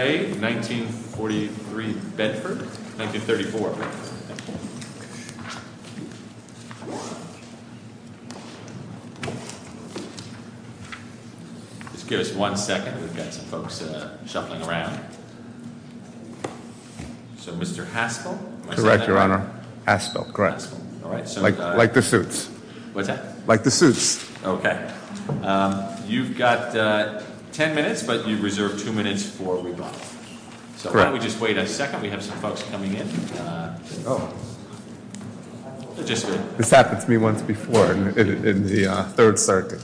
May 1943 Bedford, 1934 Bedford, thank you. Just give us one second, we've got some folks shuffling around. So Mr. Haspel, am I saying that right? Correct, your honor. Haspel, correct. Like the suits. What's that? Like the suits. Okay, you've got ten minutes, but you've reserved two minutes for rebuttal. So why don't we just wait a second, we have some folks coming in. This happened to me once before in the Third Circuit.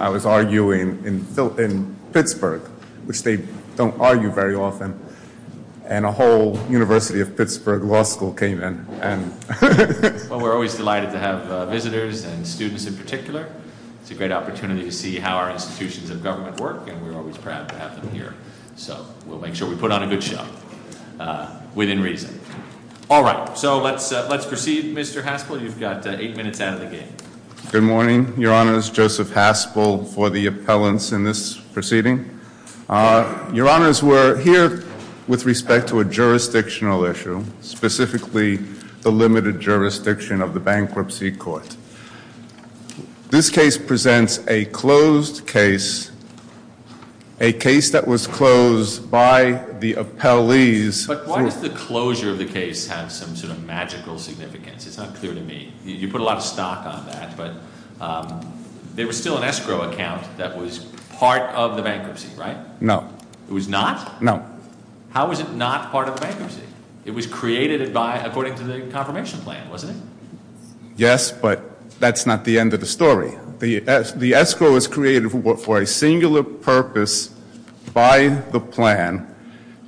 I was arguing in Pittsburgh, which they don't argue very often, and a whole University of Pittsburgh law school came in. Well, we're always delighted to have visitors and students in particular. It's a great opportunity to see how our institutions of government work, and we're always proud to have them here. So we'll make sure we put on a good show, within reason. All right, so let's proceed, Mr. Haspel. You've got eight minutes out of the game. Good morning, your honors. Joseph Haspel for the appellants in this proceeding. Your honors, we're here with respect to a jurisdictional issue, specifically the limited jurisdiction of the bankruptcy court. This case presents a closed case, a case that was closed by the appellees. But why does the closure of the case have some sort of magical significance? It's unclear to me. You put a lot of stock on that, but there was still an escrow account that was part of the bankruptcy, right? No. It was not? No. How is it not part of the bankruptcy? It was created according to the confirmation plan, wasn't it? Yes, but that's not the end of the story. The escrow was created for a singular purpose by the plan.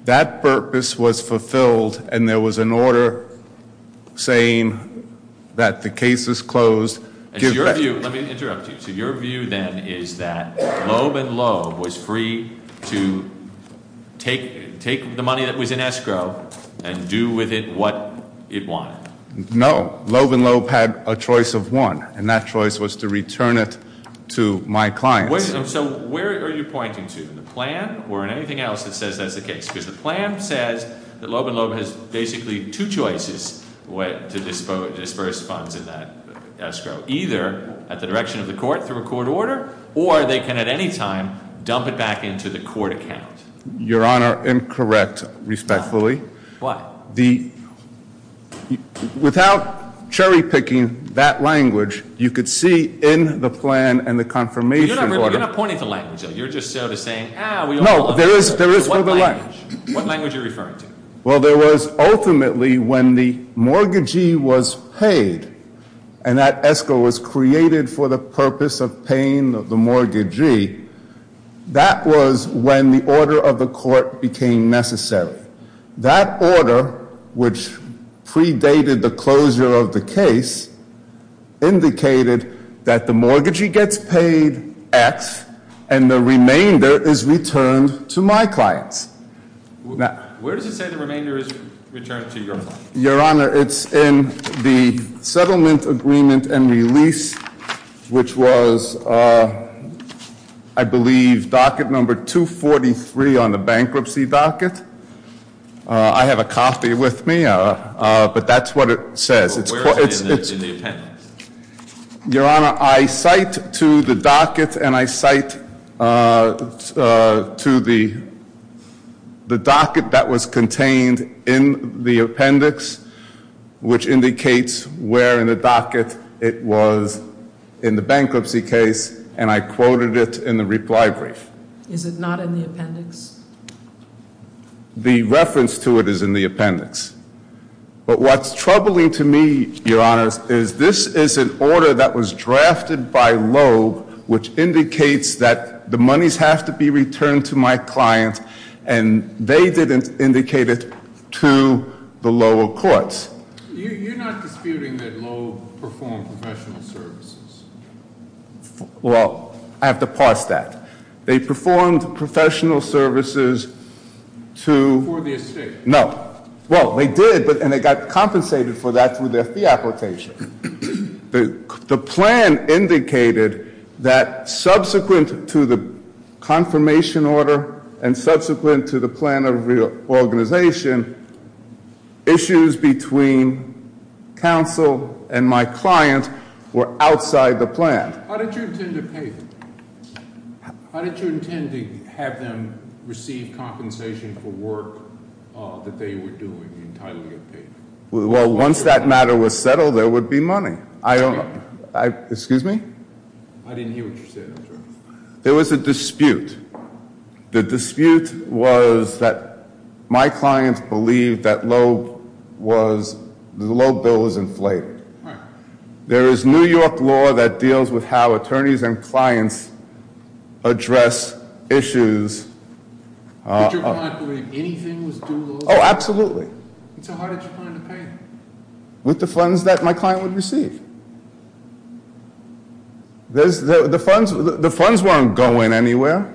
That purpose was fulfilled, and there was an order saying that the case is closed. Let me interrupt you. So your view then is that Loeb and Loeb was free to take the money that was in escrow and do with it what it wanted? No. Loeb and Loeb had a choice of one, and that choice was to return it to my clients. So where are you pointing to? In the plan or in anything else that says that's the case? Because the plan says that Loeb and Loeb has basically two choices to disburse funds in that escrow. Either at the direction of the court through a court order, or they can at any time dump it back into the court account. Your Honor, incorrect, respectfully. Why? Without cherry-picking that language, you could see in the plan and the confirmation order— You're not pointing to language, though. You're just sort of saying, ah, we all— What language? What language are you referring to? Well, there was ultimately when the mortgagee was paid and that escrow was created for the purpose of paying the mortgagee, that was when the order of the court became necessary. That order, which predated the closure of the case, indicated that the mortgagee gets paid X, and the remainder is returned to my clients. Where does it say the remainder is returned to your clients? Your Honor, it's in the settlement agreement and release, which was, I believe, docket number 243 on the bankruptcy docket. I have a copy with me, but that's what it says. Where is it in the appendix? Your Honor, I cite to the docket, and I cite to the docket that was contained in the appendix, which indicates where in the docket it was in the bankruptcy case, and I quoted it in the reply brief. Is it not in the appendix? The reference to it is in the appendix. But what's troubling to me, Your Honor, is this is an order that was drafted by Loeb, which indicates that the monies have to be returned to my client, and they didn't indicate it to the lower courts. You're not disputing that Loeb performed professional services? Well, I have to parse that. They performed professional services to- For the estate. No. Well, they did, and they got compensated for that through their fee application. The plan indicated that subsequent to the confirmation order and subsequent to the plan of reorganization, issues between counsel and my client were outside the plan. How did you intend to pay them? How did you intend to have them receive compensation for work that they were doing, the entitlement payment? Well, once that matter was settled, there would be money. I don't know. Excuse me? I didn't hear what you said. There was a dispute. The dispute was that my client believed that Loeb was, the Loeb bill was inflated. Right. There is New York law that deals with how attorneys and clients address issues. But your client believed anything was due? Oh, absolutely. So how did you plan to pay? With the funds that my client would receive. The funds weren't going anywhere,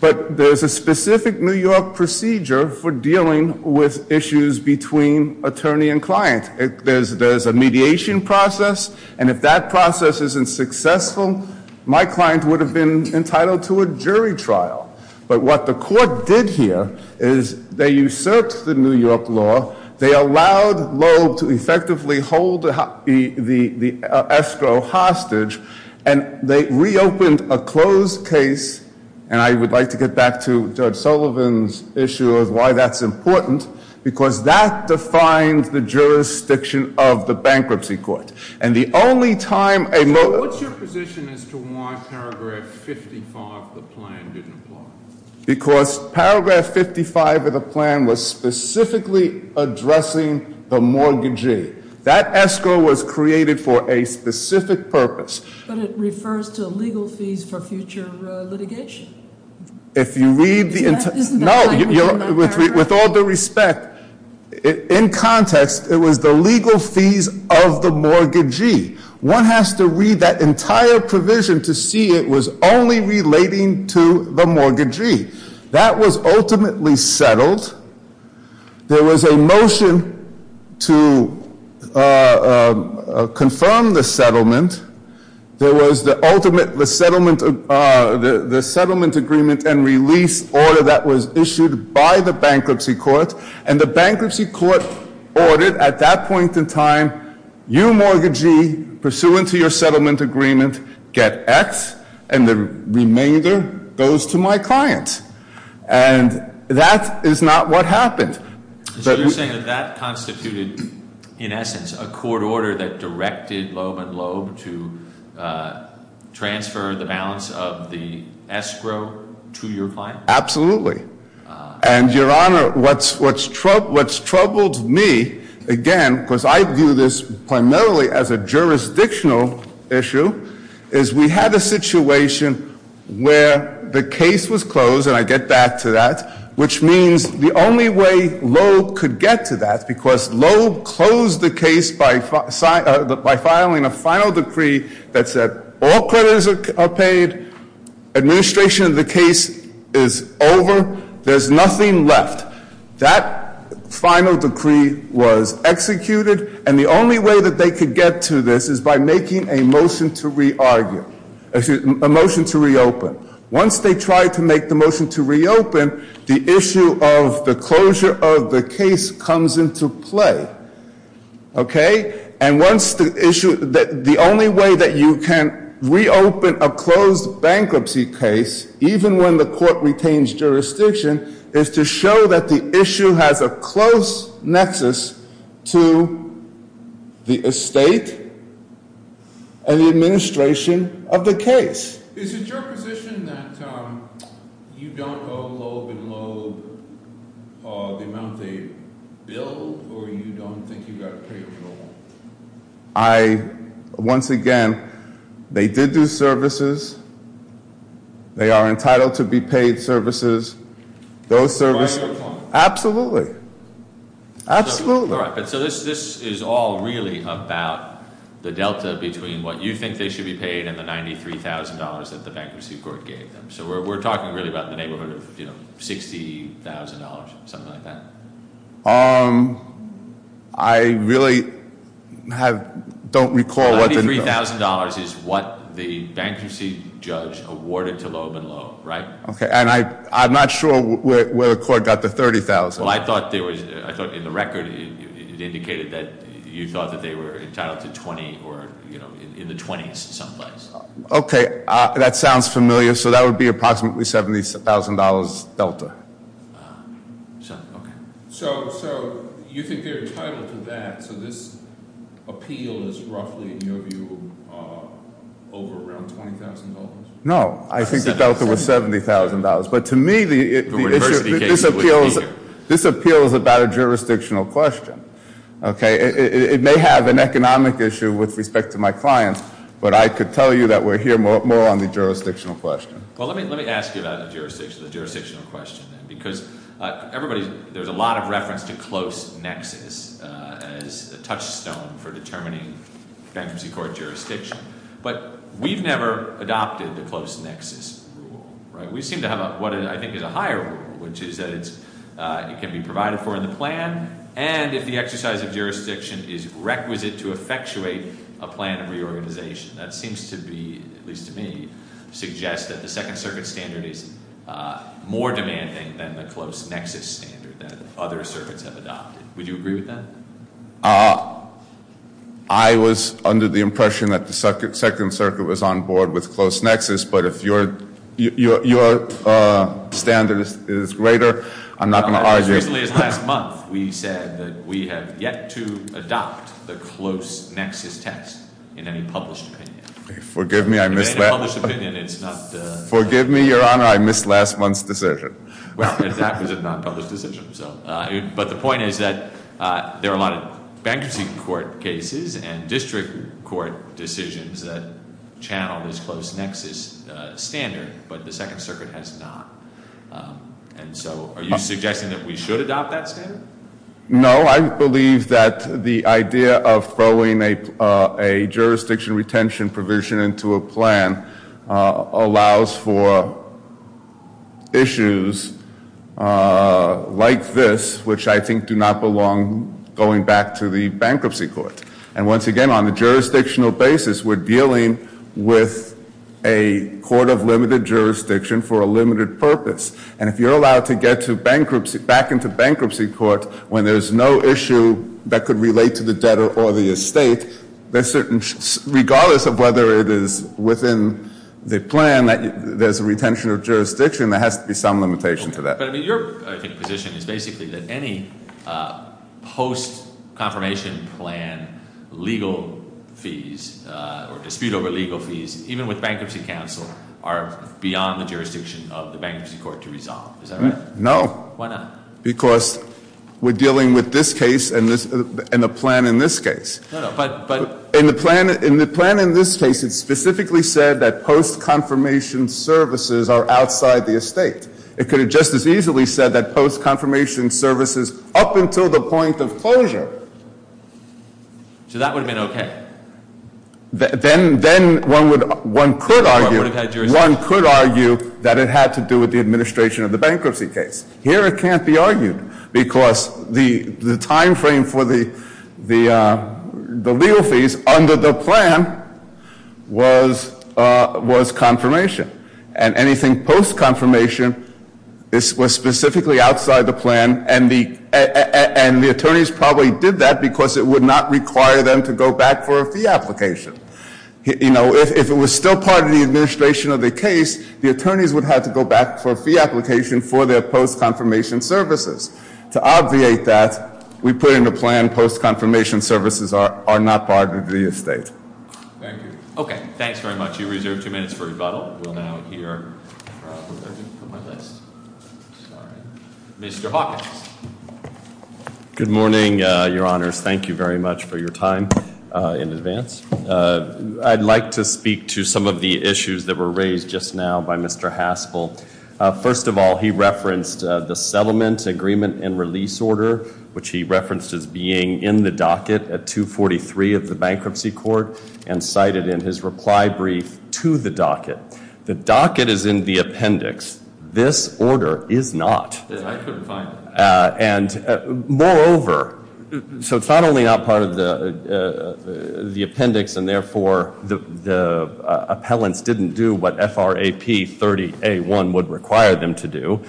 but there's a specific New York procedure for dealing with issues between attorney and client. There's a mediation process, and if that process isn't successful, my client would have been entitled to a jury trial. But what the court did here is they usurped the New York law, they allowed Loeb to effectively hold the escrow hostage, and they reopened a closed case, and I would like to get back to Judge Sullivan's issue of why that's important, because that defines the jurisdiction of the bankruptcy court. And the only time a- So what's your position as to why paragraph 55 of the plan didn't apply? Because paragraph 55 of the plan was specifically addressing the mortgagee. That escrow was created for a specific purpose. But it refers to legal fees for future litigation. If you read the entire- No, with all due respect, in context, it was the legal fees of the mortgagee. One has to read that entire provision to see it was only relating to the mortgagee. That was ultimately settled. There was a motion to confirm the settlement. There was the ultimate, the settlement agreement and release order that was issued by the bankruptcy court, and the bankruptcy court ordered at that point in time, you mortgagee, pursuant to your settlement agreement, get X, and the remainder goes to my client. And that is not what happened. So you're saying that that constituted, in essence, a court order that directed Loeb and Loeb to transfer the balance of the escrow to your client? Absolutely. And, Your Honor, what's troubled me, again, because I view this primarily as a jurisdictional issue, is we had a situation where the case was closed, and I get back to that, which means the only way Loeb could get to that, because Loeb closed the case by filing a final decree that said, all credits are paid, administration of the case is over, there's nothing left. That final decree was executed, and the only way that they could get to this is by making a motion to re-argue, a motion to reopen. Once they try to make the motion to reopen, the issue of the closure of the case comes into play. Okay? And once the issue, the only way that you can reopen a closed bankruptcy case, even when the court retains jurisdiction, is to show that the issue has a close nexus to the estate and the administration of the case. Is it your position that you don't owe Loeb and Loeb the amount they billed, or you don't think you got to pay them at all? I, once again, they did do services. They are entitled to be paid services. Those services- By your client. Absolutely. Absolutely. All right, but so this is all really about the delta between what you think they should be paid and the $93,000 that the bankruptcy court gave them. So we're talking really about the neighborhood of $60,000, something like that? I really don't recall what the- $93,000 is what the bankruptcy judge awarded to Loeb and Loeb, right? Okay, and I'm not sure where the court got the $30,000. Well, I thought in the record it indicated that you thought that they were entitled to 20 or in the 20s someplace. Okay, that sounds familiar. So that would be approximately $70,000 delta. Okay. So you think they're entitled to that, so this appeal is roughly, in your view, over around $20,000? No, I think the delta was $70,000. But to me, this appeal is about a jurisdictional question, okay? It may have an economic issue with respect to my clients, but I could tell you that we're here more on the jurisdictional question. Well, let me ask you about the jurisdictional question then, because everybody, there's a lot of reference to close nexus as a touchstone for determining bankruptcy court jurisdiction. But we've never adopted the close nexus rule, right? We seem to have what I think is a higher rule, which is that it can be provided for in the plan, and if the exercise of jurisdiction is requisite to effectuate a plan of reorganization. That seems to be, at least to me, suggests that the second circuit standard is more demanding than the close nexus standard that other circuits have adopted. Would you agree with that? I was under the impression that the second circuit was on board with close nexus, but if your standard is greater, I'm not going to argue- As recently as last month, we said that we have yet to adopt the close nexus test in any published opinion. Forgive me, I missed that. In any published opinion, it's not- Forgive me, Your Honor, I missed last month's decision. Well, that was a non-published decision. But the point is that there are a lot of bankruptcy court cases and district court decisions that channel this close nexus standard, but the second circuit has not. And so are you suggesting that we should adopt that standard? No, I believe that the idea of throwing a jurisdiction retention provision into a plan allows for issues like this, which I think do not belong going back to the bankruptcy court. And once again, on a jurisdictional basis, we're dealing with a court of limited jurisdiction for a limited purpose. And if you're allowed to get back into bankruptcy court when there's no issue that could relate to the debtor or the estate, regardless of whether it is within the plan that there's a retention of jurisdiction, there has to be some limitation to that. But your position is basically that any post-confirmation plan legal fees or dispute over legal fees, even with bankruptcy counsel, are beyond the jurisdiction of the bankruptcy court to resolve, is that right? No. Why not? Because we're dealing with this case and the plan in this case. In the plan in this case, it specifically said that post-confirmation services are outside the estate. It could have just as easily said that post-confirmation services up until the point of closure. So that would have been okay. Then one could argue that it had to do with the administration of the bankruptcy case. Here it can't be argued because the time frame for the legal fees under the plan was confirmation. And anything post-confirmation was specifically outside the plan, and the attorneys probably did that because it would not require them to go back for a fee application. If it was still part of the administration of the case, the attorneys would have to go back for a fee application for their post-confirmation services. To obviate that, we put in the plan post-confirmation services are not part of the estate. Thank you. Okay, thanks very much. You reserve two minutes for rebuttal. We'll now hear from, where did I put my list? Sorry. Mr. Hawkins. Good morning, your honors. Thank you very much for your time in advance. I'd like to speak to some of the issues that were raised just now by Mr. Haspel. First of all, he referenced the settlement agreement and release order, which he referenced as being in the docket at 243 of the bankruptcy court, and cited in his reply brief to the docket. The docket is in the appendix. This order is not. I couldn't find it. Moreover, so it's not only not part of the appendix, and therefore the appellants didn't do what FRAP 30A1 would require them to do.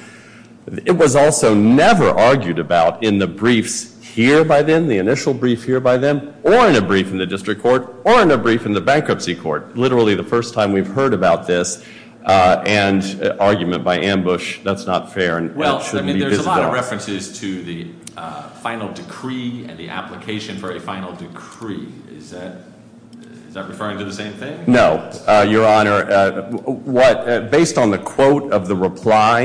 It was also never argued about in the briefs here by them, the initial brief here by them, or in a brief in the district court, or in a brief in the bankruptcy court. Literally the first time we've heard about this, and argument by ambush, that's not fair. There's a lot of references to the final decree and the application for a final decree. Is that referring to the same thing? No, your honor. Based on the quote of the reply,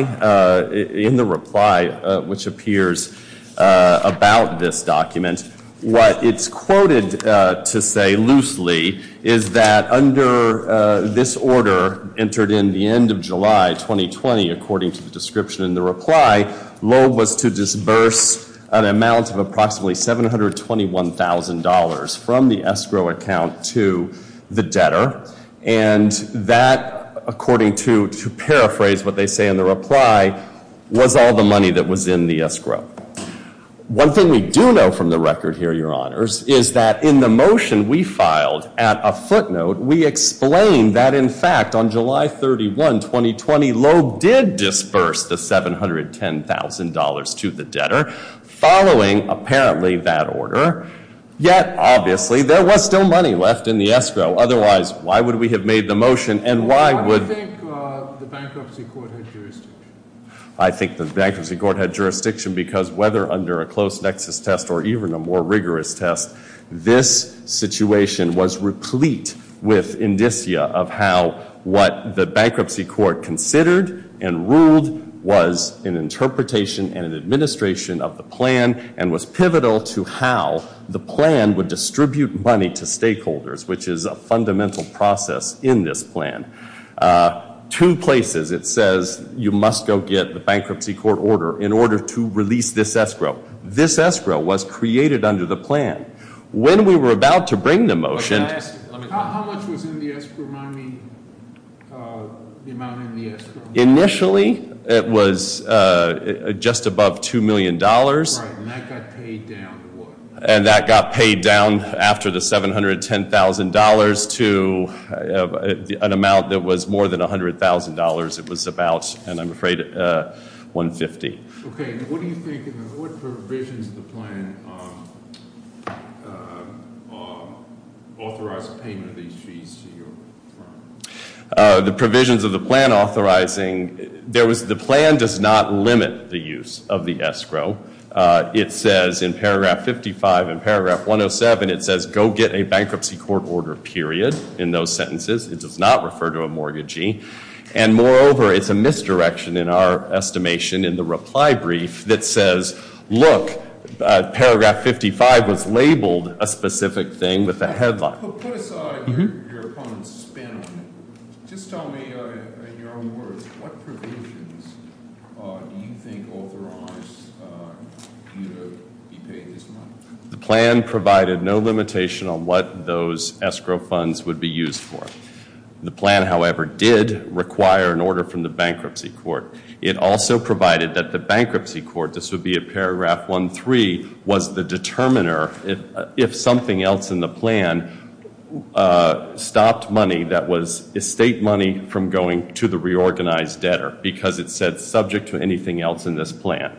in the reply which appears about this document, what it's quoted to say loosely is that under this order entered in the end of July 2020, according to the description in the reply, Loeb was to disburse an amount of approximately $721,000 from the escrow account to the debtor. And that, according to, to paraphrase what they say in the reply, was all the money that was in the escrow. One thing we do know from the record here, your honors, is that in the motion we filed at a footnote, we explained that in fact on July 31, 2020, Loeb did disburse the $710,000 to the debtor, following apparently that order. Yet, obviously, there was still money left in the escrow. Otherwise, why would we have made the motion and why would- Why do you think the bankruptcy court had jurisdiction? I think the bankruptcy court had jurisdiction because whether under a close nexus test or even a more rigorous test, this situation was replete with indicia of how what the bankruptcy court considered and ruled was an interpretation and an administration of the plan and was pivotal to how the plan would distribute money to stakeholders, which is a fundamental process in this plan. Two places it says you must go get the bankruptcy court order in order to release this escrow. This escrow was created under the plan. When we were about to bring the motion- How much was in the escrow? Remind me the amount in the escrow. Initially, it was just above $2 million. Right, and that got paid down to what? And that got paid down after the $710,000 to an amount that was more than $100,000. It was about, and I'm afraid, $150,000. Okay, and what do you think, what provisions of the plan authorize payment of these fees to your firm? The provisions of the plan authorizing, the plan does not limit the use of the escrow. It says in paragraph 55 and paragraph 107, it says go get a bankruptcy court order, period, in those sentences. It does not refer to a mortgagee. And moreover, it's a misdirection in our estimation in the reply brief that says, look, paragraph 55 was labeled a specific thing with a headline. Put aside your opponent's spin on it. Just tell me in your own words, what provisions do you think authorize you to be paid this money? The plan provided no limitation on what those escrow funds would be used for. The plan, however, did require an order from the bankruptcy court. It also provided that the bankruptcy court, this would be at paragraph 13, was the determiner if something else in the plan stopped money that was estate money from going to the reorganized debtor, because it said subject to anything else in this plan.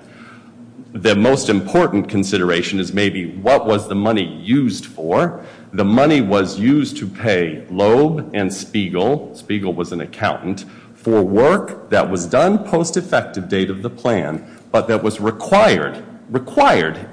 The most important consideration is maybe what was the money used for? The money was used to pay Loeb and Spiegel, Spiegel was an accountant, for work that was done post effective date of the plan, but that was required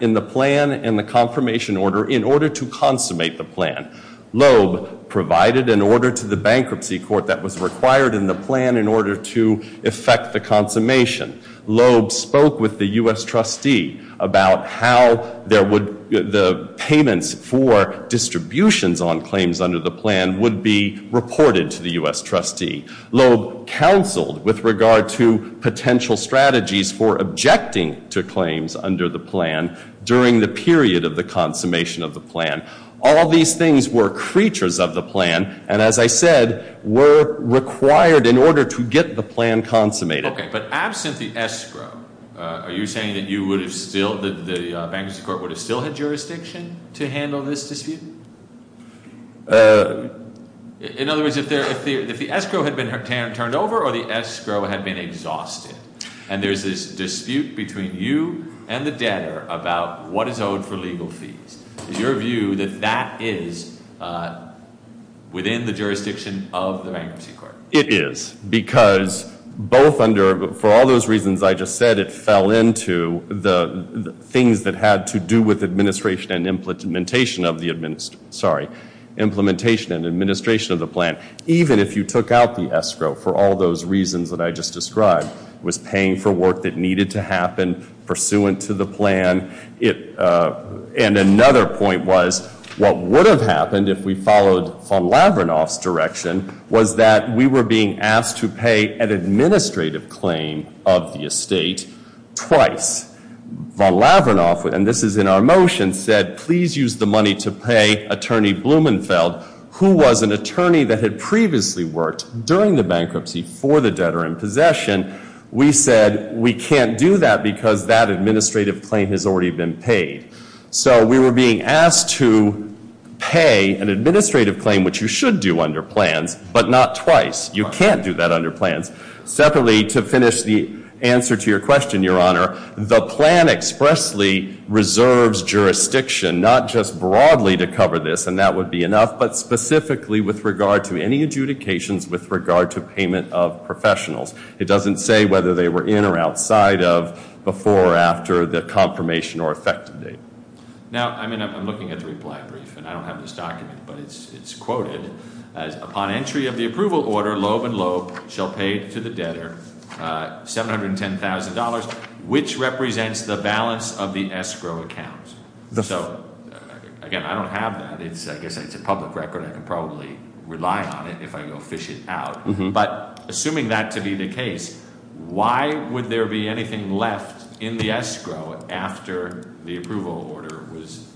in the plan and the confirmation order in order to consummate the plan. Loeb provided an order to the bankruptcy court that was required in the plan in order to effect the consummation. Loeb spoke with the U.S. trustee about how the payments for distributions on claims under the plan would be reported to the U.S. trustee. Loeb counseled with regard to potential strategies for objecting to claims under the plan during the period of the consummation of the plan. All these things were creatures of the plan, and as I said, were required in order to get the plan consummated. Okay, but absent the escrow, are you saying that the bankruptcy court would have still had jurisdiction to handle this dispute? In other words, if the escrow had been turned over or the escrow had been exhausted, and there's this dispute between you and the debtor about what is owed for legal fees, is your view that that is within the jurisdiction of the bankruptcy court? It is, because for all those reasons I just said, it fell into the things that had to do with implementation and administration of the plan. Even if you took out the escrow for all those reasons that I just described, it was paying for work that needed to happen pursuant to the plan. And another point was what would have happened if we followed von Lavernoff's direction was that we were being asked to pay an administrative claim of the estate twice. Von Lavernoff, and this is in our motion, said, please use the money to pay Attorney Blumenfeld, who was an attorney that had previously worked during the bankruptcy for the debtor in possession. We said we can't do that because that administrative claim has already been paid. So we were being asked to pay an administrative claim, which you should do under plans, but not twice. You can't do that under plans. Separately, to finish the answer to your question, Your Honor, the plan expressly reserves jurisdiction, not just broadly to cover this, and that would be enough, but specifically with regard to any adjudications with regard to payment of professionals. It doesn't say whether they were in or outside of before or after the confirmation or effective date. Now, I mean, I'm looking at the reply brief, and I don't have this document, but it's quoted. Upon entry of the approval order, Loeb and Loeb shall pay to the debtor $710,000, which represents the balance of the escrow account. So, again, I don't have that. I guess it's a public record. I can probably rely on it if I go fish it out. But assuming that to be the case, why would there be anything left in the escrow after the approval order was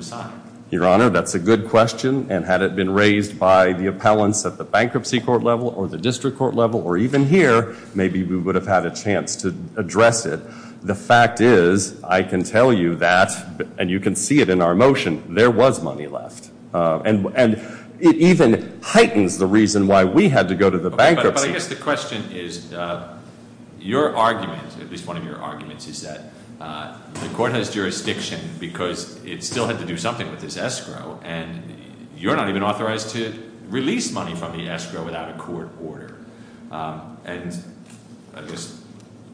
signed? Your Honor, that's a good question, and had it been raised by the appellants at the bankruptcy court level or the district court level or even here, maybe we would have had a chance to address it. The fact is, I can tell you that, and you can see it in our motion, there was money left. And it even heightens the reason why we had to go to the bankruptcy. But I guess the question is, your argument, at least one of your arguments, is that the court has jurisdiction because it still had to do something with this escrow, and you're not even authorized to release money from the escrow without a court order. And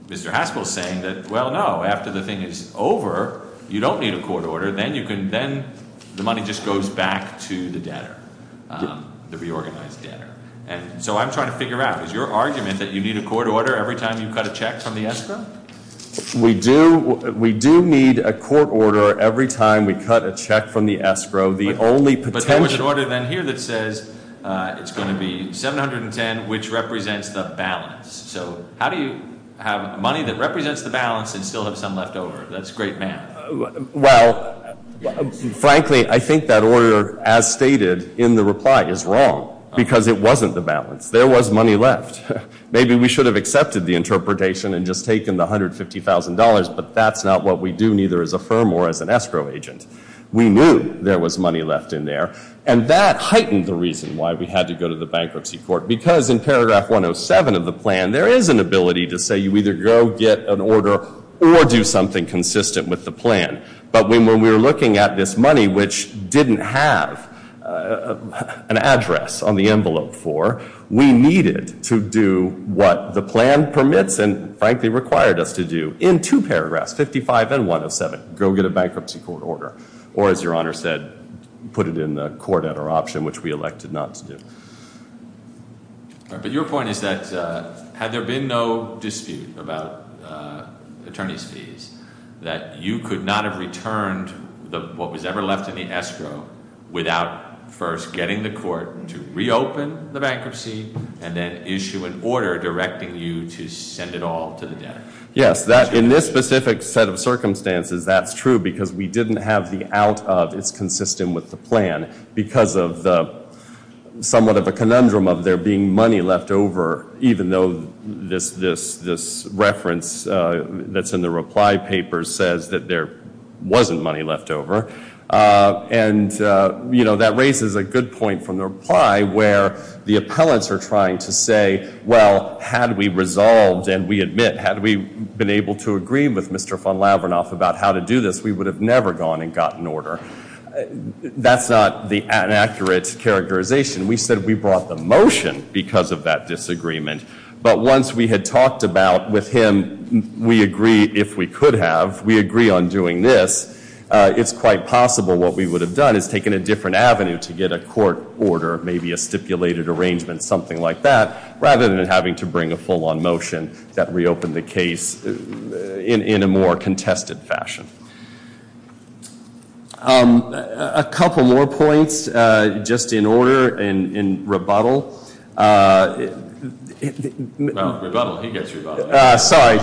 Mr. Haspel is saying that, well, no, after the thing is over, you don't need a court order. Then the money just goes back to the debtor, the reorganized debtor. And so I'm trying to figure out, is your argument that you need a court order every time you cut a check from the escrow? We do need a court order every time we cut a check from the escrow. The only potential- But there was an order then here that says it's going to be 710, which represents the balance. So how do you have money that represents the balance and still have some left over? That's great math. Well, frankly, I think that order, as stated in the reply, is wrong because it wasn't the balance. There was money left. Maybe we should have accepted the interpretation and just taken the $150,000, but that's not what we do neither as a firm nor as an escrow agent. We knew there was money left in there, and that heightened the reason why we had to go to the bankruptcy court because in paragraph 107 of the plan, there is an ability to say you either go get an order or do something consistent with the plan. But when we were looking at this money, which didn't have an address on the envelope for, we needed to do what the plan permits and, frankly, required us to do in two paragraphs, 55 and 107, go get a bankruptcy court order or, as Your Honor said, put it in the court at our option, which we elected not to do. But your point is that had there been no dispute about attorney's fees, that you could not have returned what was ever left in the escrow without first getting the court to reopen the bankruptcy and then issue an order directing you to send it all to the debtor. Yes, in this specific set of circumstances, that's true because we didn't have the out of it's consistent with the plan because of the somewhat of a conundrum of there being money left over, even though this reference that's in the reply paper says that there wasn't money left over. And, you know, that raises a good point from the reply where the appellants are trying to say, well, had we resolved and we admit, had we been able to agree with Mr. Von Lavernoff about how to do this, that's not the inaccurate characterization. We said we brought the motion because of that disagreement. But once we had talked about with him, we agree if we could have, we agree on doing this, it's quite possible what we would have done is taken a different avenue to get a court order, maybe a stipulated arrangement, something like that, rather than having to bring a full on motion that reopened the case in a more contested fashion. A couple more points, just in order, in rebuttal. Well, rebuttal, he gets rebuttal. Sorry,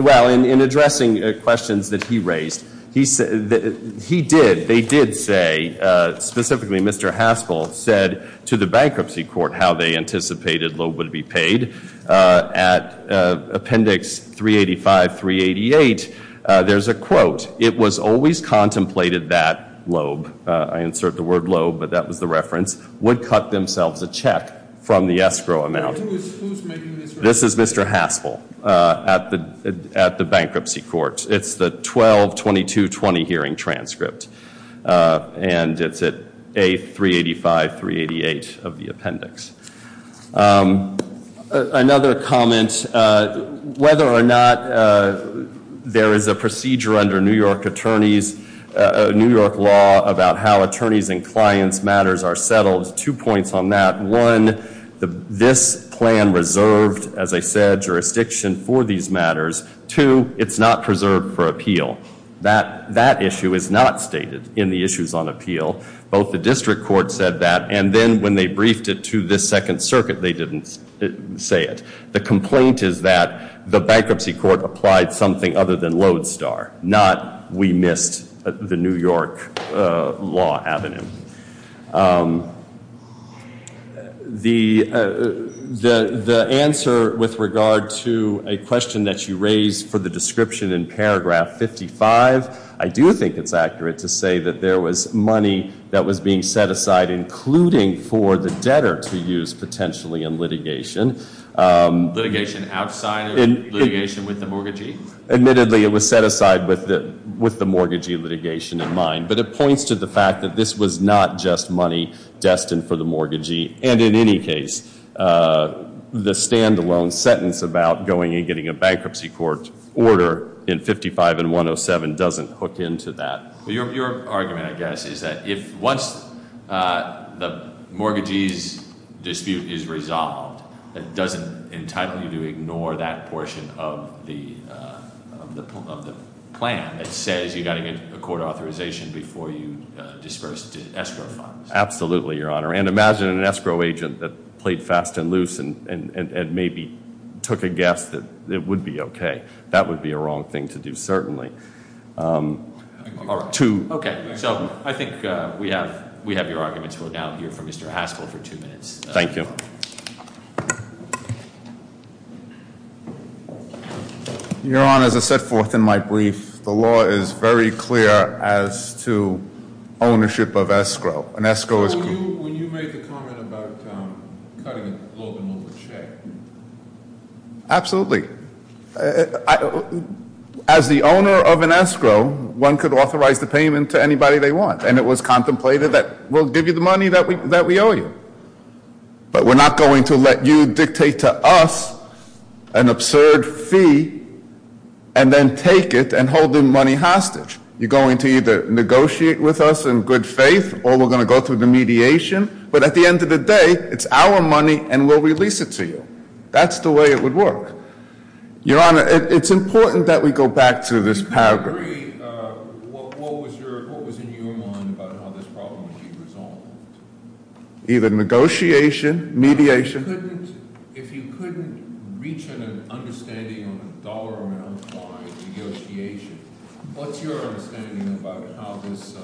well, in addressing questions that he raised. He did, they did say, specifically Mr. Haspel said to the bankruptcy court how they anticipated At appendix 385, 388, there's a quote. It was always contemplated that Loeb, I insert the word Loeb, but that was the reference, would cut themselves a check from the escrow amount. Who's making this reference? This is Mr. Haspel at the bankruptcy court. It's the 12-22-20 hearing transcript. And it's at A385, 388 of the appendix. Another comment, whether or not there is a procedure under New York attorneys, New York law about how attorneys and clients' matters are settled. Two points on that. One, this plan reserved, as I said, jurisdiction for these matters. Two, it's not preserved for appeal. That issue is not stated in the issues on appeal. Both the district court said that, and then when they briefed it to the second circuit, they didn't say it. The complaint is that the bankruptcy court applied something other than Lodestar, not we missed the New York law avenue. The answer with regard to a question that you raised for the description in paragraph 55, I do think it's accurate to say that there was money that was being set aside, including for the debtor to use potentially in litigation. Litigation outside of litigation with the mortgagee? Admittedly, it was set aside with the mortgagee litigation in mind. But it points to the fact that this was not just money destined for the mortgagee. And in any case, the stand-alone sentence about going and getting a bankruptcy court order in 55 and 107 doesn't hook into that. Your argument, I guess, is that if once the mortgagee's dispute is resolved, it doesn't entitle you to ignore that portion of the plan that says you've got to get a court authorization before you disperse the escrow funds. Absolutely, Your Honor. And imagine an escrow agent that played fast and loose and maybe took a guess that it would be okay. That would be a wrong thing to do, certainly. Okay, so I think we have your arguments. We'll now hear from Mr. Haskell for two minutes. Thank you. Your Honor, as I set forth in my brief, the law is very clear as to ownership of escrow. An escrow is- When you made the comment about cutting a loan over check. Absolutely. As the owner of an escrow, one could authorize the payment to anybody they want. And it was contemplated that we'll give you the money that we owe you. But we're not going to let you dictate to us an absurd fee and then take it and hold the money hostage. You're going to either negotiate with us in good faith or we're going to go through the mediation. But at the end of the day, it's our money and we'll release it to you. That's the way it would work. Your Honor, it's important that we go back to this paragraph. I agree. What was in your mind about how this problem would be resolved? Either negotiation, mediation. If you couldn't reach an understanding on a dollar amount by negotiation, what's your understanding about how this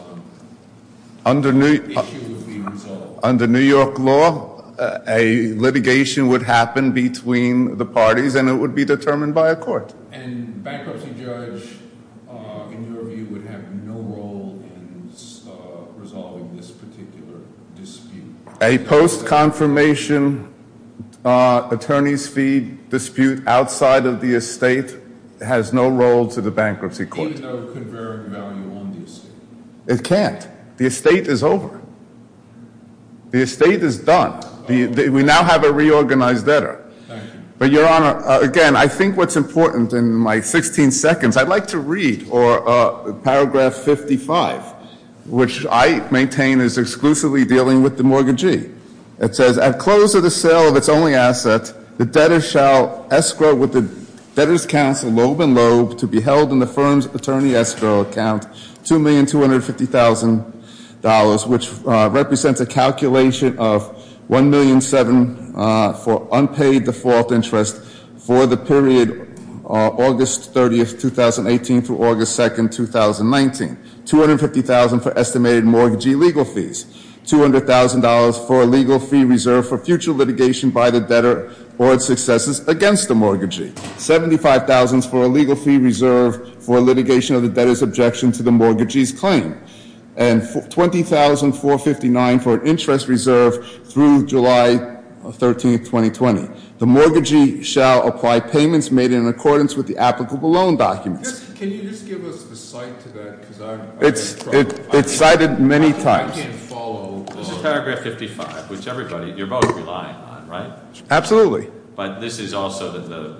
issue would be resolved? Under New York law, a litigation would happen between the parties and it would be determined by a court. And a bankruptcy judge, in your view, would have no role in resolving this particular dispute? A post-confirmation attorney's fee dispute outside of the estate has no role to the bankruptcy court. Even though it could vary in value on the estate? It can't. The estate is over. The estate is done. We now have a reorganized letter. Thank you. But, Your Honor, again, I think what's important in my 16 seconds, I'd like to read paragraph 55, which I maintain is exclusively dealing with the mortgagee. It says, At close of the sale of its only asset, the debtor shall escrow with the debtor's counsel, lobe and lobe, to be held in the firm's attorney escrow account $2,250,000, which represents a calculation of $1,700,000 for unpaid default interest for the period August 30th, 2018, through August 2nd, 2019. $250,000 for estimated mortgagee legal fees. $200,000 for a legal fee reserve for future litigation by the debtor or its successes against the mortgagee. $75,000 for a legal fee reserve for litigation of the debtor's objection to the mortgagee's claim. And $20,459 for an interest reserve through July 13th, 2020. The mortgagee shall apply payments made in accordance with the applicable loan documents. Can you just give us a cite to that? It's cited many times. I can follow. There's a paragraph 55, which everybody, you're both relying on, right? Absolutely. But this is also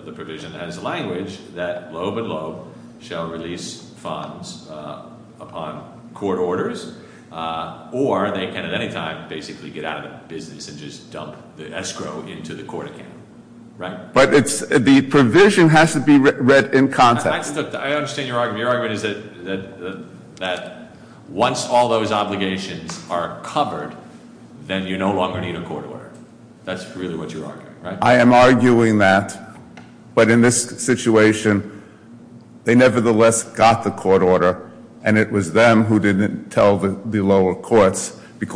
the provision that has language that lobe and lobe shall release funds upon court orders, or they can at any time basically get out of the business and just dump the escrow into the court account. Right? But the provision has to be read in context. I understand your argument. Your argument is that once all those obligations are covered, then you no longer need a court order. That's really what you're arguing, right? I am arguing that. But in this situation, they nevertheless got the court order, and it was them who didn't tell the lower courts. The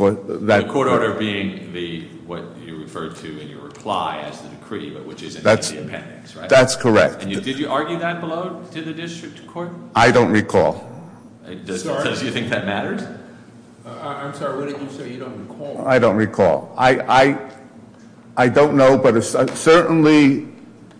court order being what you referred to in your reply as the decree, but which is in the appendix, right? That's correct. And did you argue that below to the district court? I don't recall. Does he think that matters? I'm sorry, what did you say you don't recall? I don't recall. I don't know, but certainly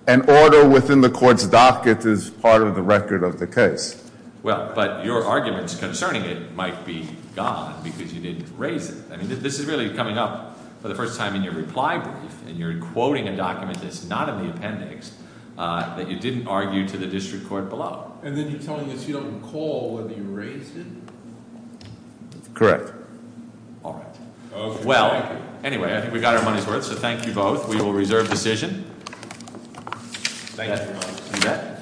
an order within the court's docket is part of the record of the case. Well, but your arguments concerning it might be gone because you didn't raise it. I mean, this is really coming up for the first time in your reply brief, and you're quoting a document that's not in the appendix that you didn't argue to the district court below. And then you're telling us you don't recall whether you raised it? Correct. All right. Okay, thank you. Well, anyway, I think we got our money's worth, so thank you both. We will reserve decision. Thank you. You bet.